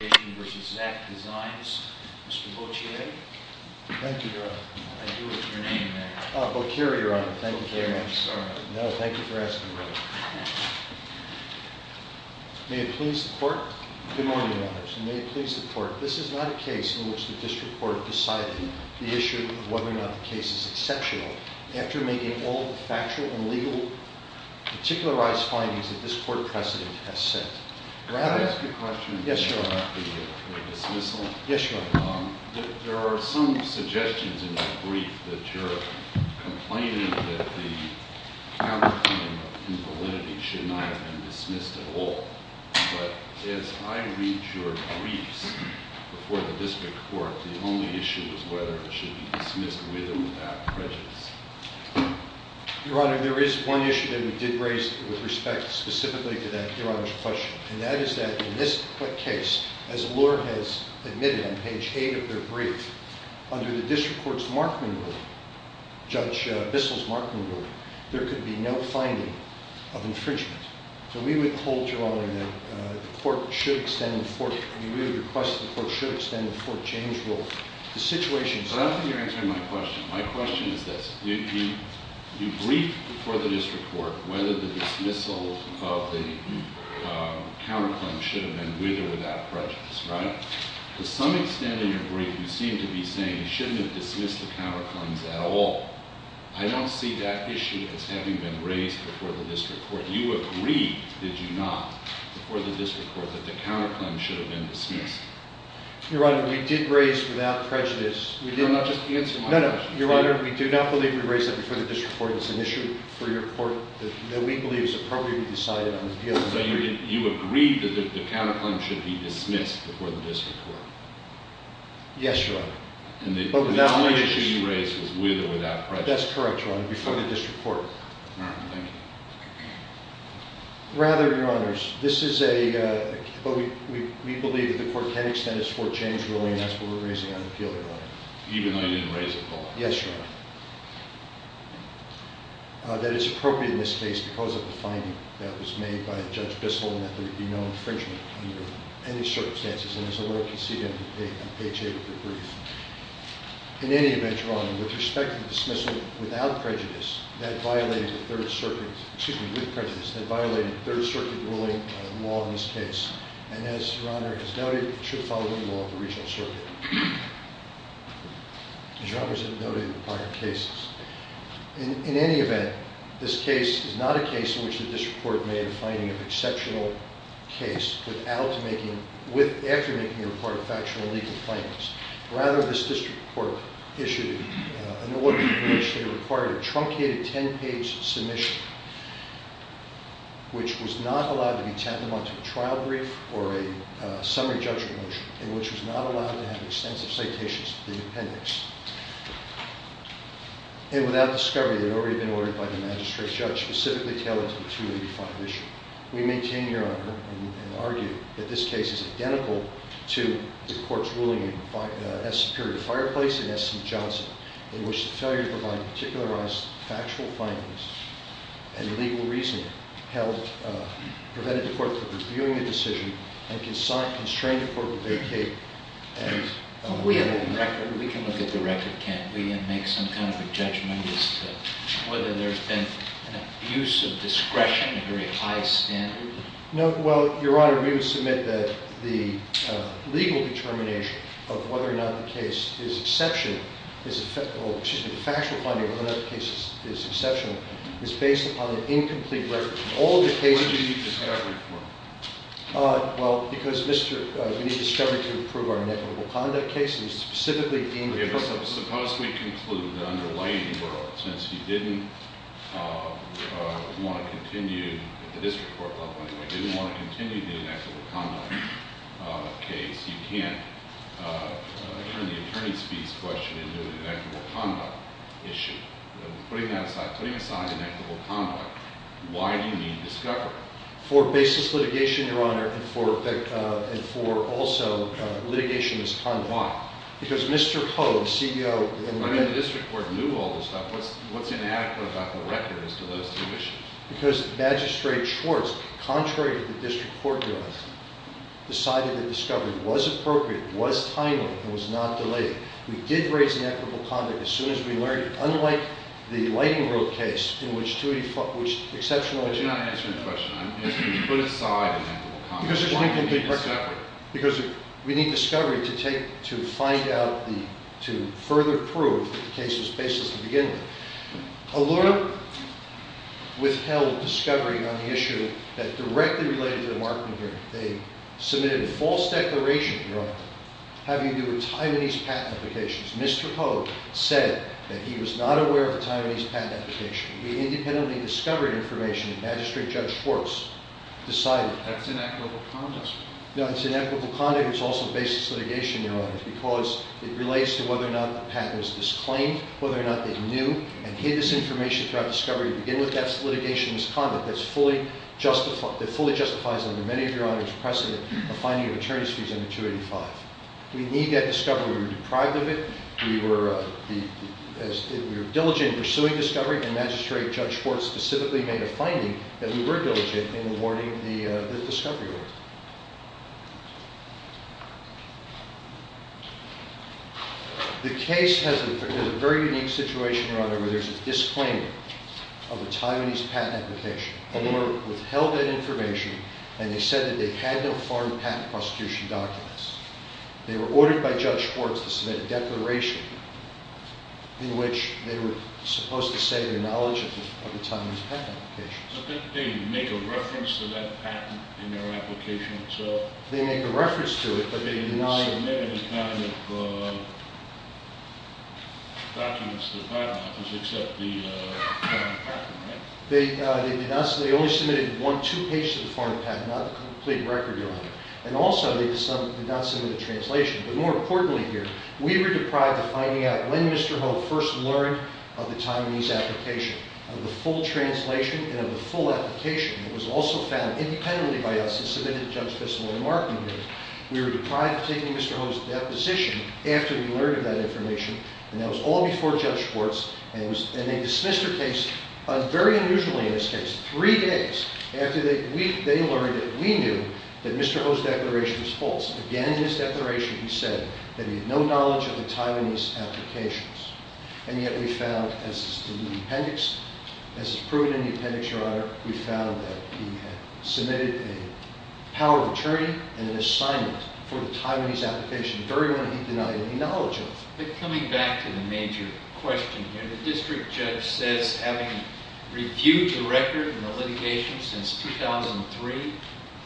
Mr. Bocchiere. Thank you, Your Honor. I knew it was your name there. Bocchiere, Your Honor. Thank you very much. I'm sorry. No, thank you for asking the question. May it please the Court. Good morning, Your Honors. May it please the Court. This is not a case in which the District Court decided the issue of whether or not the case is exceptional after making all the factual and legal particularized findings that this Court precedent has set. May I ask a question about the dismissal? Yes, Your Honor. There are some suggestions in that brief that you're complaining that the counterclaim of invalidity should not have been dismissed at all. But as I read your briefs before the District Court, the only issue is whether it should be dismissed with or without prejudice. Your Honor, there is one issue that we did raise with respect specifically to that, Your Honor's question. And that is that in this case, as Allure has admitted on page 8 of their brief, under the District Court's Markman ruling, Judge Bissell's Markman ruling, there could be no finding of infringement. So we would hold, Your Honor, that the Court should extend the Fort James rule. But I don't think you're answering my question. My question is this. You briefed before the District Court whether the dismissal of the counterclaim should have been with or without prejudice, right? To some extent in your brief, you seem to be saying you shouldn't have dismissed the counterclaims at all. I don't see that issue as having been raised before the District Court. You agreed, did you not, before the District Court that the counterclaim should have been dismissed? Your Honor, we did raise without prejudice. You're not just answering my question. No, no. Your Honor, we do not believe we raised that before the District Court. It's an issue for your Court that we believe is appropriately decided on the appeal. So you agreed that the counterclaim should be dismissed before the District Court? Yes, Your Honor. And the only issue you raised was with or without prejudice. That's correct, Your Honor, before the District Court. All right. Thank you. Rather, Your Honors, this is a... We believe that the Court can't extend its court change ruling after we're raising an appeal, Your Honor. Even though you didn't raise it at all? Yes, Your Honor. That it's appropriate in this case because of the finding that was made by Judge Bissell and that there would be no infringement under any circumstances. And as the Lord conceded on page 8 of the brief. In any event, Your Honor, with respect to the dismissal without prejudice, that violated the Third Circuit, excuse me, with prejudice, that violated Third Circuit ruling on the law in this case. And as Your Honor has noted, it should follow the law of the Regional Circuit. As Your Honor has noted in the prior cases. In any event, this case is not a case in which the District Court made a finding of exceptional case without making, after making a report of factional legal findings. Rather, this District Court issued an order in which they required a truncated 10-page submission which was not allowed to be tabbed onto a trial brief or a summary judgment motion and which was not allowed to have extensive citations to the appendix. And without discovery, they had already been ordered by the magistrate judge specifically tailored to the 285 issue. We maintain, Your Honor, and argue that this case is identical to the courts ruling in S. Superior Fireplace and S.C. Johnson in which the failure to provide particularized factual findings and legal reasoning prevented the court from reviewing the decision and constrained the court to vacate. We can look at the record, can't we? And make some kind of a judgment as to whether there's been an abuse of discretion in a very high standard? No, well, Your Honor, we would submit that the legal determination of whether or not the case is exceptional is, well, excuse me, the factual finding of whether or not the case is exceptional is based upon an incomplete record. All of the cases... What did you need discovery for? Well, because we need discovery to prove our inequitable conduct case and it was specifically deemed... Suppose we conclude the underlying world, since you didn't want to continue, at the district court level anyway, didn't want to continue the inequitable conduct case, you can't turn the attorney's fees question into an inequitable conduct issue. Putting that aside, putting aside inequitable conduct, why do you need discovery? For basis litigation, Your Honor, and for also litigation as conduct. Why? Because Mr. Ho, the CEO... I mean, the district court knew all this stuff. What's inadequate about the record as to those two issues? Because Magistrate Schwartz, contrary to the district court guidance, decided that discovery was appropriate, was timely, and was not delayed. We did raise inequitable conduct as soon as we learned it, unlike the lighting rope case in which 285... But you're not answering the question. I'm asking you to put aside inequitable conduct. Because we need discovery to further prove that the case was baseless to begin with. Allura withheld discovery on the issue that directly related to the Markman hearing. They submitted a false declaration, Your Honor, having to do with Taiwanese patent applications. Mr. Ho said that he was not aware of a Taiwanese patent application. We independently discovered information, and Magistrate Judge Schwartz decided... That's inequitable conduct. No, it's inequitable conduct. It's also baseless litigation, Your Honor, because it relates to whether or not the patent was disclaimed, whether or not they knew, and hid this information throughout discovery to begin with. That's litigation as conduct that fully justifies, under many of Your Honor's precedent, a finding of attorney's fees under 285. We need that discovery. We were deprived of it. We were diligent in pursuing discovery, and Magistrate Judge Schwartz specifically made a finding that we were diligent in awarding the discovery award. The case has a very unique situation, Your Honor, where there's a disclaimer of a Taiwanese patent application. Allura withheld that information, and they said that they had no foreign patent prosecution documents. They were ordered by Judge Schwartz to submit a declaration in which they were supposed to say their knowledge of the Taiwanese patent applications. They make a reference to that patent in their application itself? They make a reference to it, but they deny it. They didn't submit any kind of documents to the Patent Office except the foreign patent, right? They only submitted one, two pages of the foreign patent, not the complete record, Your Honor. And also, they did not submit a translation. But more importantly here, we were deprived of finding out when Mr. Ho first learned of the Taiwanese application, of the full translation and of the full application. It was also found independently by us and submitted to Judge Bissell and Mark. We were deprived of taking Mr. Ho's deposition after we learned of that information, and that was all before Judge Schwartz. And they dismissed the case, very unusually in this case, three days after they learned that we knew that Mr. Ho's declaration was false. Again, in his declaration, he said that he had no knowledge of the Taiwanese applications. And yet we found, as is proven in the appendix, Your Honor, we found that he had submitted a power of attorney and an assignment for the Taiwanese application, very one he denied any knowledge of. But coming back to the major question here, the district judge says, having reviewed the record and the litigation since 2003,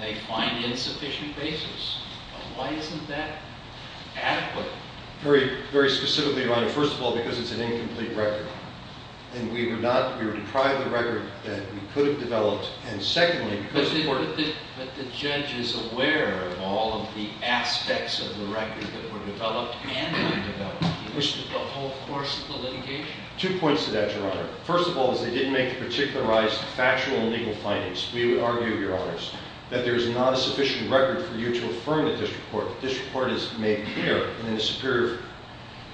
they find insufficient basis. Why isn't that adequate? Very specifically, Your Honor, first of all, because it's an incomplete record. And we were deprived of the record that we could have developed. And secondly, because the court— But the judge is aware of all of the aspects of the record that were developed and undeveloped in the whole course of the litigation. Two points to that, Your Honor. First of all, is they didn't make the particularized factual and legal findings. We would argue, Your Honors, that there is not a sufficient record for you to affirm the district court. The district court is made clear in the superior—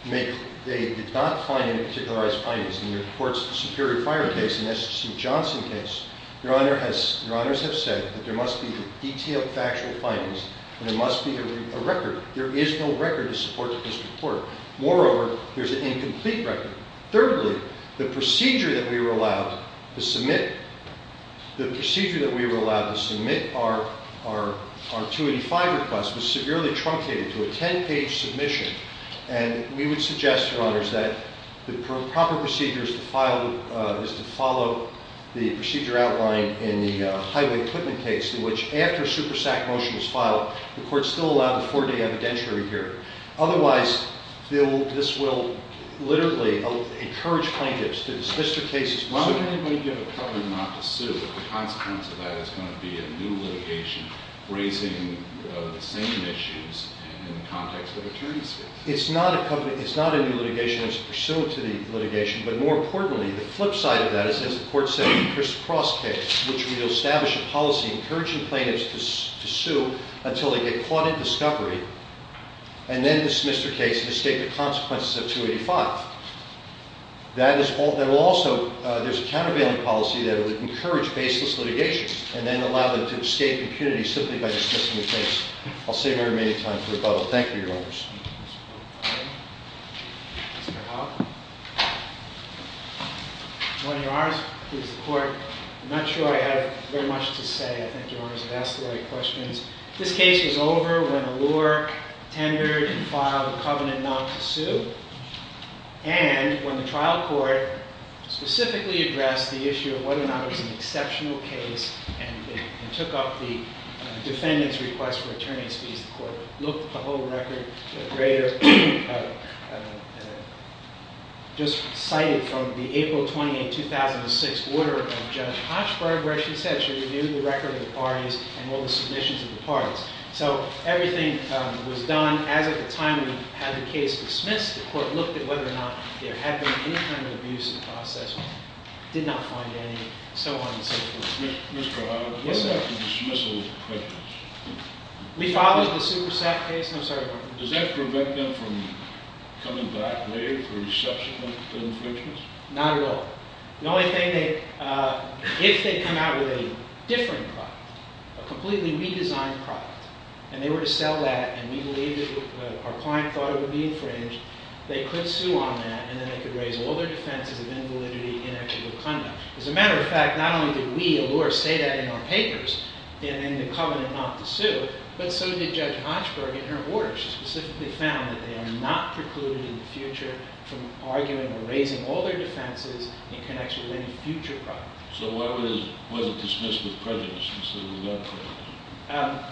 They did not find any particularized findings. In the Superior Fire case and the S.H.C. Johnson case, Your Honors have said that there must be detailed factual findings and there must be a record. There is no record to support the district court. Moreover, there's an incomplete record. Thirdly, the procedure that we were allowed to submit— was severely truncated to a 10-page submission. And we would suggest, Your Honors, that the proper procedure is to file— is to follow the procedure outlined in the Highway Equipment case, in which after a SuperSAC motion was filed, the court still allowed a four-day evidentiary period. Otherwise, this will literally encourage plaintiffs to dismiss their cases. Why would anybody give a cover not to sue if the consequence of that is going to be a new litigation raising the same issues in the context of attorneyship? It's not a new litigation. It's pursuant to the litigation. But more importantly, the flip side of that is, as the court said in the Chris Cross case, which will establish a policy encouraging plaintiffs to sue until they get caught in discovery and then dismiss their case and escape the consequences of 285. That is also— There's a countervailing policy that would encourage baseless litigation and then allow them to escape impunity simply by dismissing the case. I'll save our remaining time for a bubble. Thank you, Your Honors. Mr. Howell? When Your Honors, please, the court, I'm not sure I have very much to say. I think Your Honors have asked the right questions. This case was over when Allure tendered and filed a covenant not to sue. And when the trial court specifically addressed the issue of whether or not it was an exceptional case and took up the defendant's request for attorney's fees, the court looked at the whole record. The grader just cited from the April 28, 2006 order of Judge Hochberg where she said she reviewed the record of the parties and all the submissions of the parties. So everything was done. As at the time we had the case dismissed, the court looked at whether or not there had been any kind of abuse in the process. Did not find any, so on and so forth. Mr. Howell? Yes, sir. What about the dismissal prejudice? We filed the super set case. I'm sorry. Does that prevent them from coming back later for subsequent infringements? Not at all. The only thing they, if they come out with a different product, a completely redesigned product, and they were to sell that and we believe that our client thought it would be infringed, they could sue on that and then they could raise all their defenses of invalidity in actual conduct. As a matter of fact, not only did we, Alura, say that in our papers in the covenant not to sue, but so did Judge Hochberg in her order. She specifically found that they are not precluded in the future from arguing or raising all their defenses in connection with any future product. So why was it dismissed with prejudice instead of without prejudice?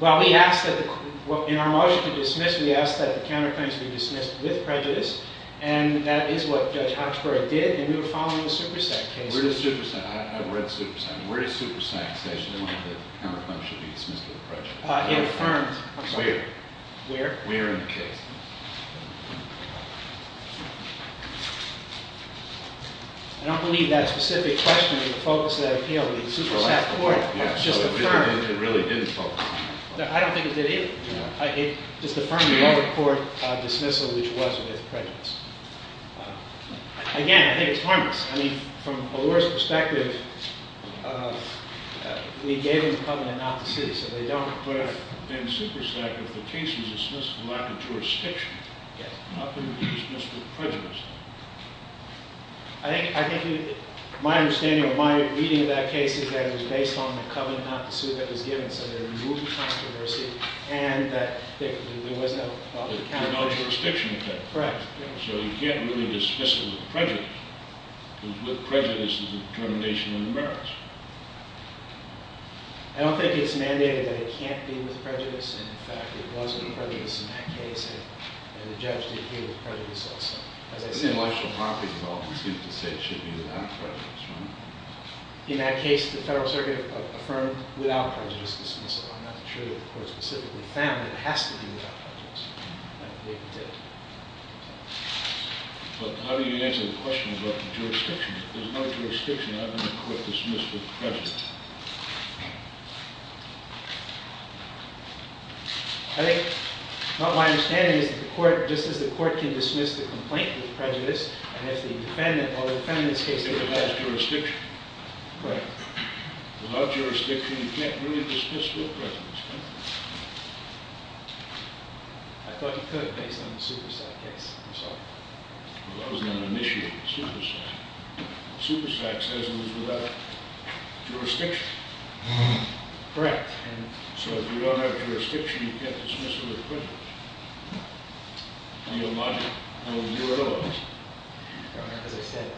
Well, we asked that in our motion to dismiss, we asked that the counterclaims be dismissed with prejudice and that is what Judge Hochberg did and we were following the super set case. Where does super set, I've read super set, where does super set say that the counterclaims should be dismissed with prejudice? It affirmed. Where? Where? Where in the case. I don't believe that specific question is the focus of that appeal. The super set court just affirmed. It really didn't focus on that. I don't think it did either. It just affirmed the lower court dismissal, which was with prejudice. Again, I think it's harmless. I mean, from Alura's perspective, we gave them the covenant not to sue, so they don't have to. But in super set, if the case was dismissed without the jurisdiction, how could it be dismissed with prejudice? I think my understanding or my reading of that case is that it was based on There was no jurisdiction. Correct. So you can't really dismiss it with prejudice, because with prejudice there's a determination of embarrassment. I don't think it's mandated that it can't be with prejudice, and in fact it was with prejudice in that case, and the judge did agree with prejudice also. Intellectual property development seems to say it should be without prejudice, right? In that case, the Federal Circuit affirmed without prejudice dismissal. I'm not sure that the court specifically found it has to be without prejudice, but it did. But how do you answer the question about the jurisdiction? There's no jurisdiction. How can the court dismiss with prejudice? I think my understanding is that the court, just as the court can dismiss the complaint with prejudice, and if the defendant or the defendant's case is with prejudice. It has jurisdiction. Correct. Without jurisdiction, you can't really dismiss with prejudice, can you? I thought you could based on the Supersact case. Well, that was an initial Supersact. Supersact says it was without jurisdiction. Correct. So if you don't have jurisdiction, you can't dismiss with prejudice. Do you have logic? No. As I said,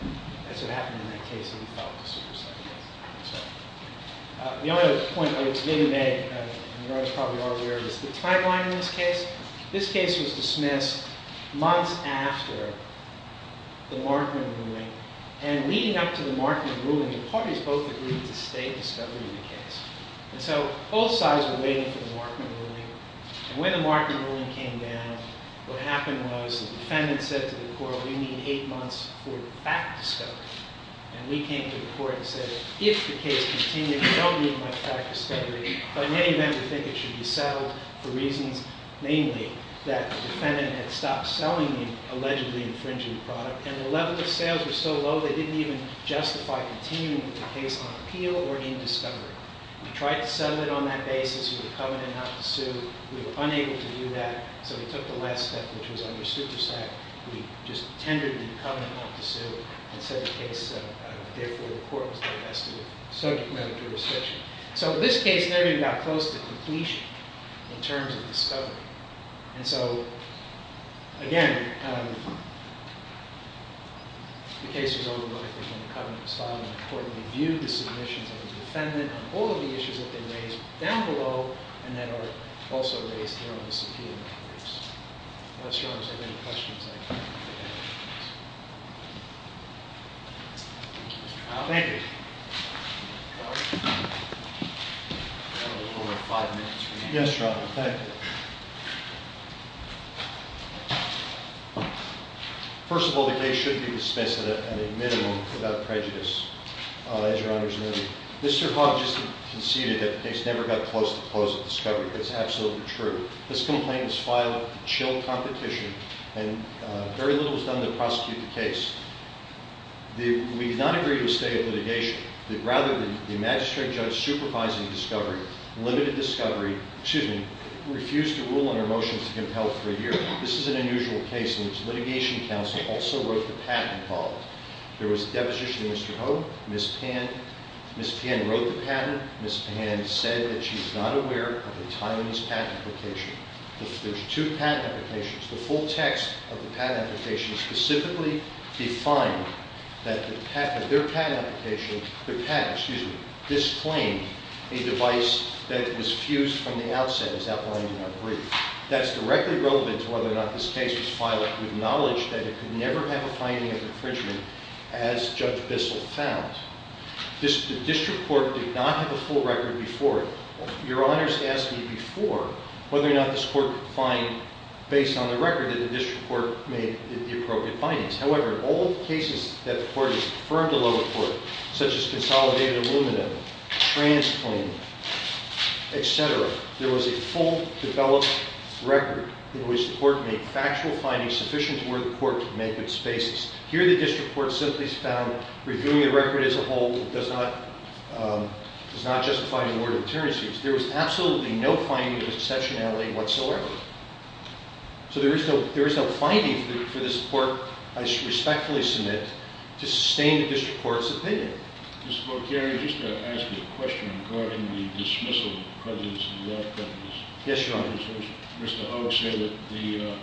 that's what happened in that case when you filed the Supersact case. The only other point I would say today, and you guys probably are aware of, is the timeline in this case. This case was dismissed months after the Markman ruling, and leading up to the Markman ruling, the parties both agreed to stay and discover the case. And so both sides were waiting for the Markman ruling, and when the Markman ruling came down, what happened was the defendant said to the court, we need eight months for the fact to discover. And we came to the court and said, if the case continues, we don't need much fact discovery, but in any event, we think it should be settled for reasons, namely that the defendant had stopped selling the allegedly infringing product, and the level of sales was so low, they didn't even justify continuing with the case on appeal or in discovery. We tried to settle it on that basis with a covenant not to sue. We were unable to do that, so we took the last step, which was under Supersact. We just tendered the covenant not to sue and said the case therefore the court was divested of subject matter jurisdiction. So this case never even got close to completion in terms of discovery. And so, again, the case was overlooked. Again, the covenant was filed, and the court reviewed the submissions of the defendant on all of the issues that they raised down below and that are also raised here on this appeal. Unless your Honors have any questions. Thank you. Yes, Your Honor, thank you. First of all, the case should be dismissed at a minimum without prejudice, as Your Honors know. Mr. Hogg just conceded that the case never got close to the close of discovery. That's absolutely true. This complaint was filed with chill competition, and very little was done to prosecute the case. We did not agree to a stay of litigation. Rather, the Magistrate Judge supervising discovery, limited discovery, excuse me, refused to rule on our motions to compel for a year. This is an unusual case in which litigation counsel also wrote the patent involved. There was a deposition of Mr. Hogg. Ms. Pan wrote the patent. Ms. Pan said that she's not aware of a Taiwanese patent application. There's two patent applications. The full text of the patent application specifically defined that their patent application, excuse me, disclaimed a device that was fused from the outset, as outlined in our brief. That's directly relevant to whether or not this case was filed with knowledge that it could never have a finding of infringement, as Judge Bissell found. The district court did not have a full record before it. Your Honors asked me before whether or not this court could find, based on the record that the district court made, the appropriate findings. However, in all cases that the court has confirmed to lower court, such as consolidated aluminum, transplanted, et cetera, there was a full, developed record in which the court made factual findings sufficient to where the court could make its basis. Here the district court simply found reviewing the record as a whole does not justify an order of deterrence. There was absolutely no finding of exceptionality whatsoever. So there is no finding for this court, I respectfully submit, to sustain the district court's opinion. Mr. Bocchiari, I just want to ask you a question regarding the dismissal of the prejudice of the law defenders. Yes, Your Honors. Mr. Hogg said that the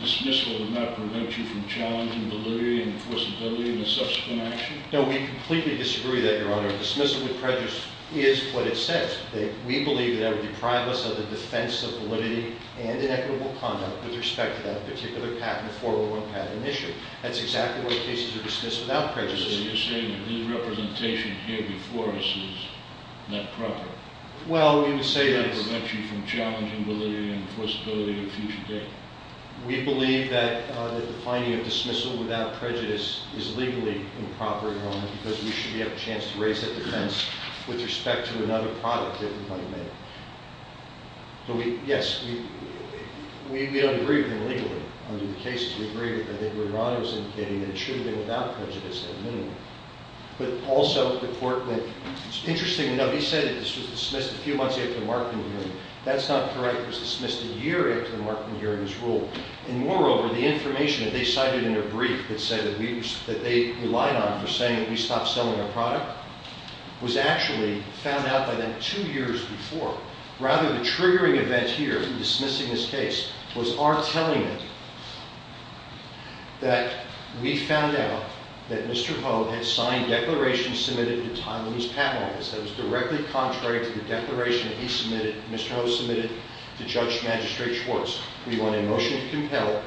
dismissal would not prevent you from challenging delivery, enforceability, and the subsequent action? No, we completely disagree with that, Your Honor. Dismissal with prejudice is what it says. We believe that it would deprive us of the defense of validity and inequitable conduct with respect to that particular patent, the 401 patent issue. That's exactly why cases are dismissed without prejudice. So you're saying that his representation here before us is not proper? Well, we would say that... It would prevent you from challenging validity, enforceability, and future data? We believe that the finding of dismissal without prejudice is legally improper, Your Honor, because we should have a chance to raise that defense with respect to another product that we might make. Yes, we agree with him legally under the cases. We agree with what Your Honor is indicating that it should have been without prejudice at a minimum. But also, the court went... It's interesting to note, he said that this was dismissed a few months after the Markman hearing. That's not correct. It was dismissed a year after the Markman hearing was ruled. And moreover, the information that they cited in their brief that said that they relied on for saying that we stopped selling our product was actually found out by them two years before. Rather, the triggering event here in dismissing this case was our telling it that we found out that Mr. Ho had signed declarations submitted to Tylenol's patent office that was directly contrary to the declaration that he submitted, Mr. Ho submitted, to Judge Magistrate Schwartz. We want a motion to compel.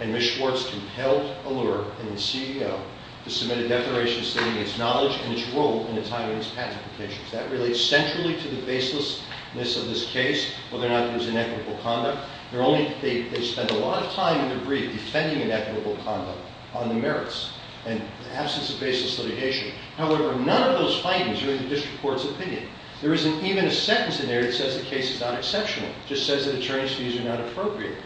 And Ms. Schwartz compelled Allure and the CEO to submit a declaration stating its knowledge and its role in the timing of its patent applications. That relates centrally to the baselessness of this case, whether or not it was inequitable conduct. They spend a lot of time in their brief defending inequitable conduct on the merits and absence of baseless litigation. However, none of those findings are in the district court's opinion. There isn't even a sentence in there that says the case is not exceptional. It just says that attorney's fees are not appropriate.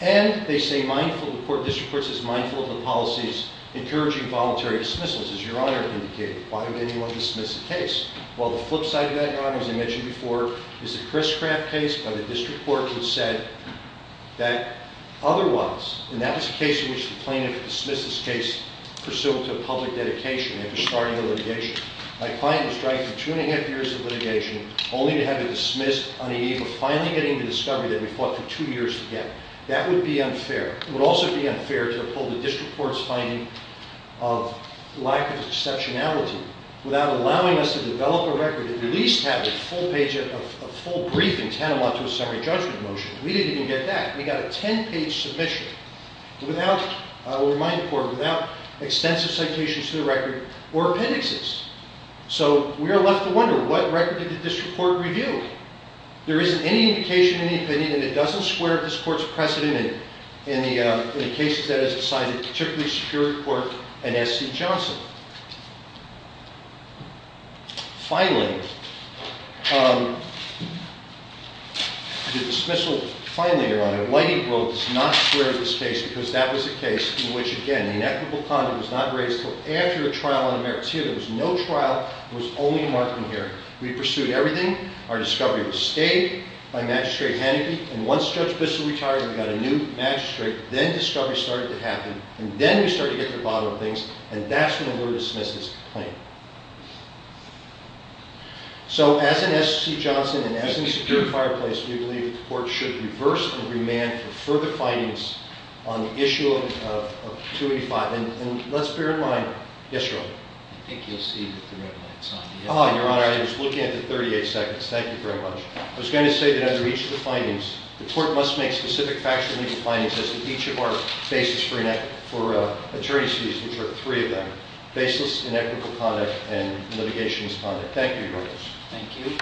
And they say the district court is mindful of the policies encouraging voluntary dismissals, as Your Honor indicated. Why would anyone dismiss a case? Well, the flip side of that, Your Honor, as I mentioned before, is the Chris Craft case by the district court which said that otherwise, and that was a case in which the plaintiff dismissed this case pursuant to a public dedication after starting the litigation. My client was trying for two and a half years of litigation only to have it dismissed on the eve of finally getting the discovery that we fought for two years together. That would be unfair. It would also be unfair to uphold the district court's finding of lack of exceptionality without allowing us to develop a record and at least have a full briefing tantamount to a summary judgment motion. We didn't even get that. We got a ten-page submission without, I'll remind the court, without extensive citations to the record or appendixes. So we are left to wonder, what record did the district court review? There isn't any indication, any opinion, and it doesn't square up this court's precedent in the cases that it has decided, particularly Superior Court and S.C. Johnson. Finally, the dismissal finding, Your Honor, Whitey wrote, does not square with this case because that was a case in which, again, inequitable conduct was not raised until after the trial on the merits here. There was no trial. There was only a mark in here. We pursued everything. Our discovery was stayed by Magistrate Haneke, and once Judge Bissell retired, we got a new magistrate. Then discovery started to happen, and then we started to get to the bottom of things, and that's when we were dismissed as complainant. So as in S.C. Johnson and as in the secured fireplace, we believe the court should reverse and remand for further findings on the issue of 285. And let's bear in mind, yes, Your Honor. I think you'll see that the red light is on. Your Honor, I was looking at the 38 seconds. Thank you very much. I was going to say that under each of the findings, the court must make specific factual legal findings as to each of our basis for attorney's fees, which are three of them, baseless, inequitable conduct, and litigation as conduct. Thank you, Your Honor. Thank you.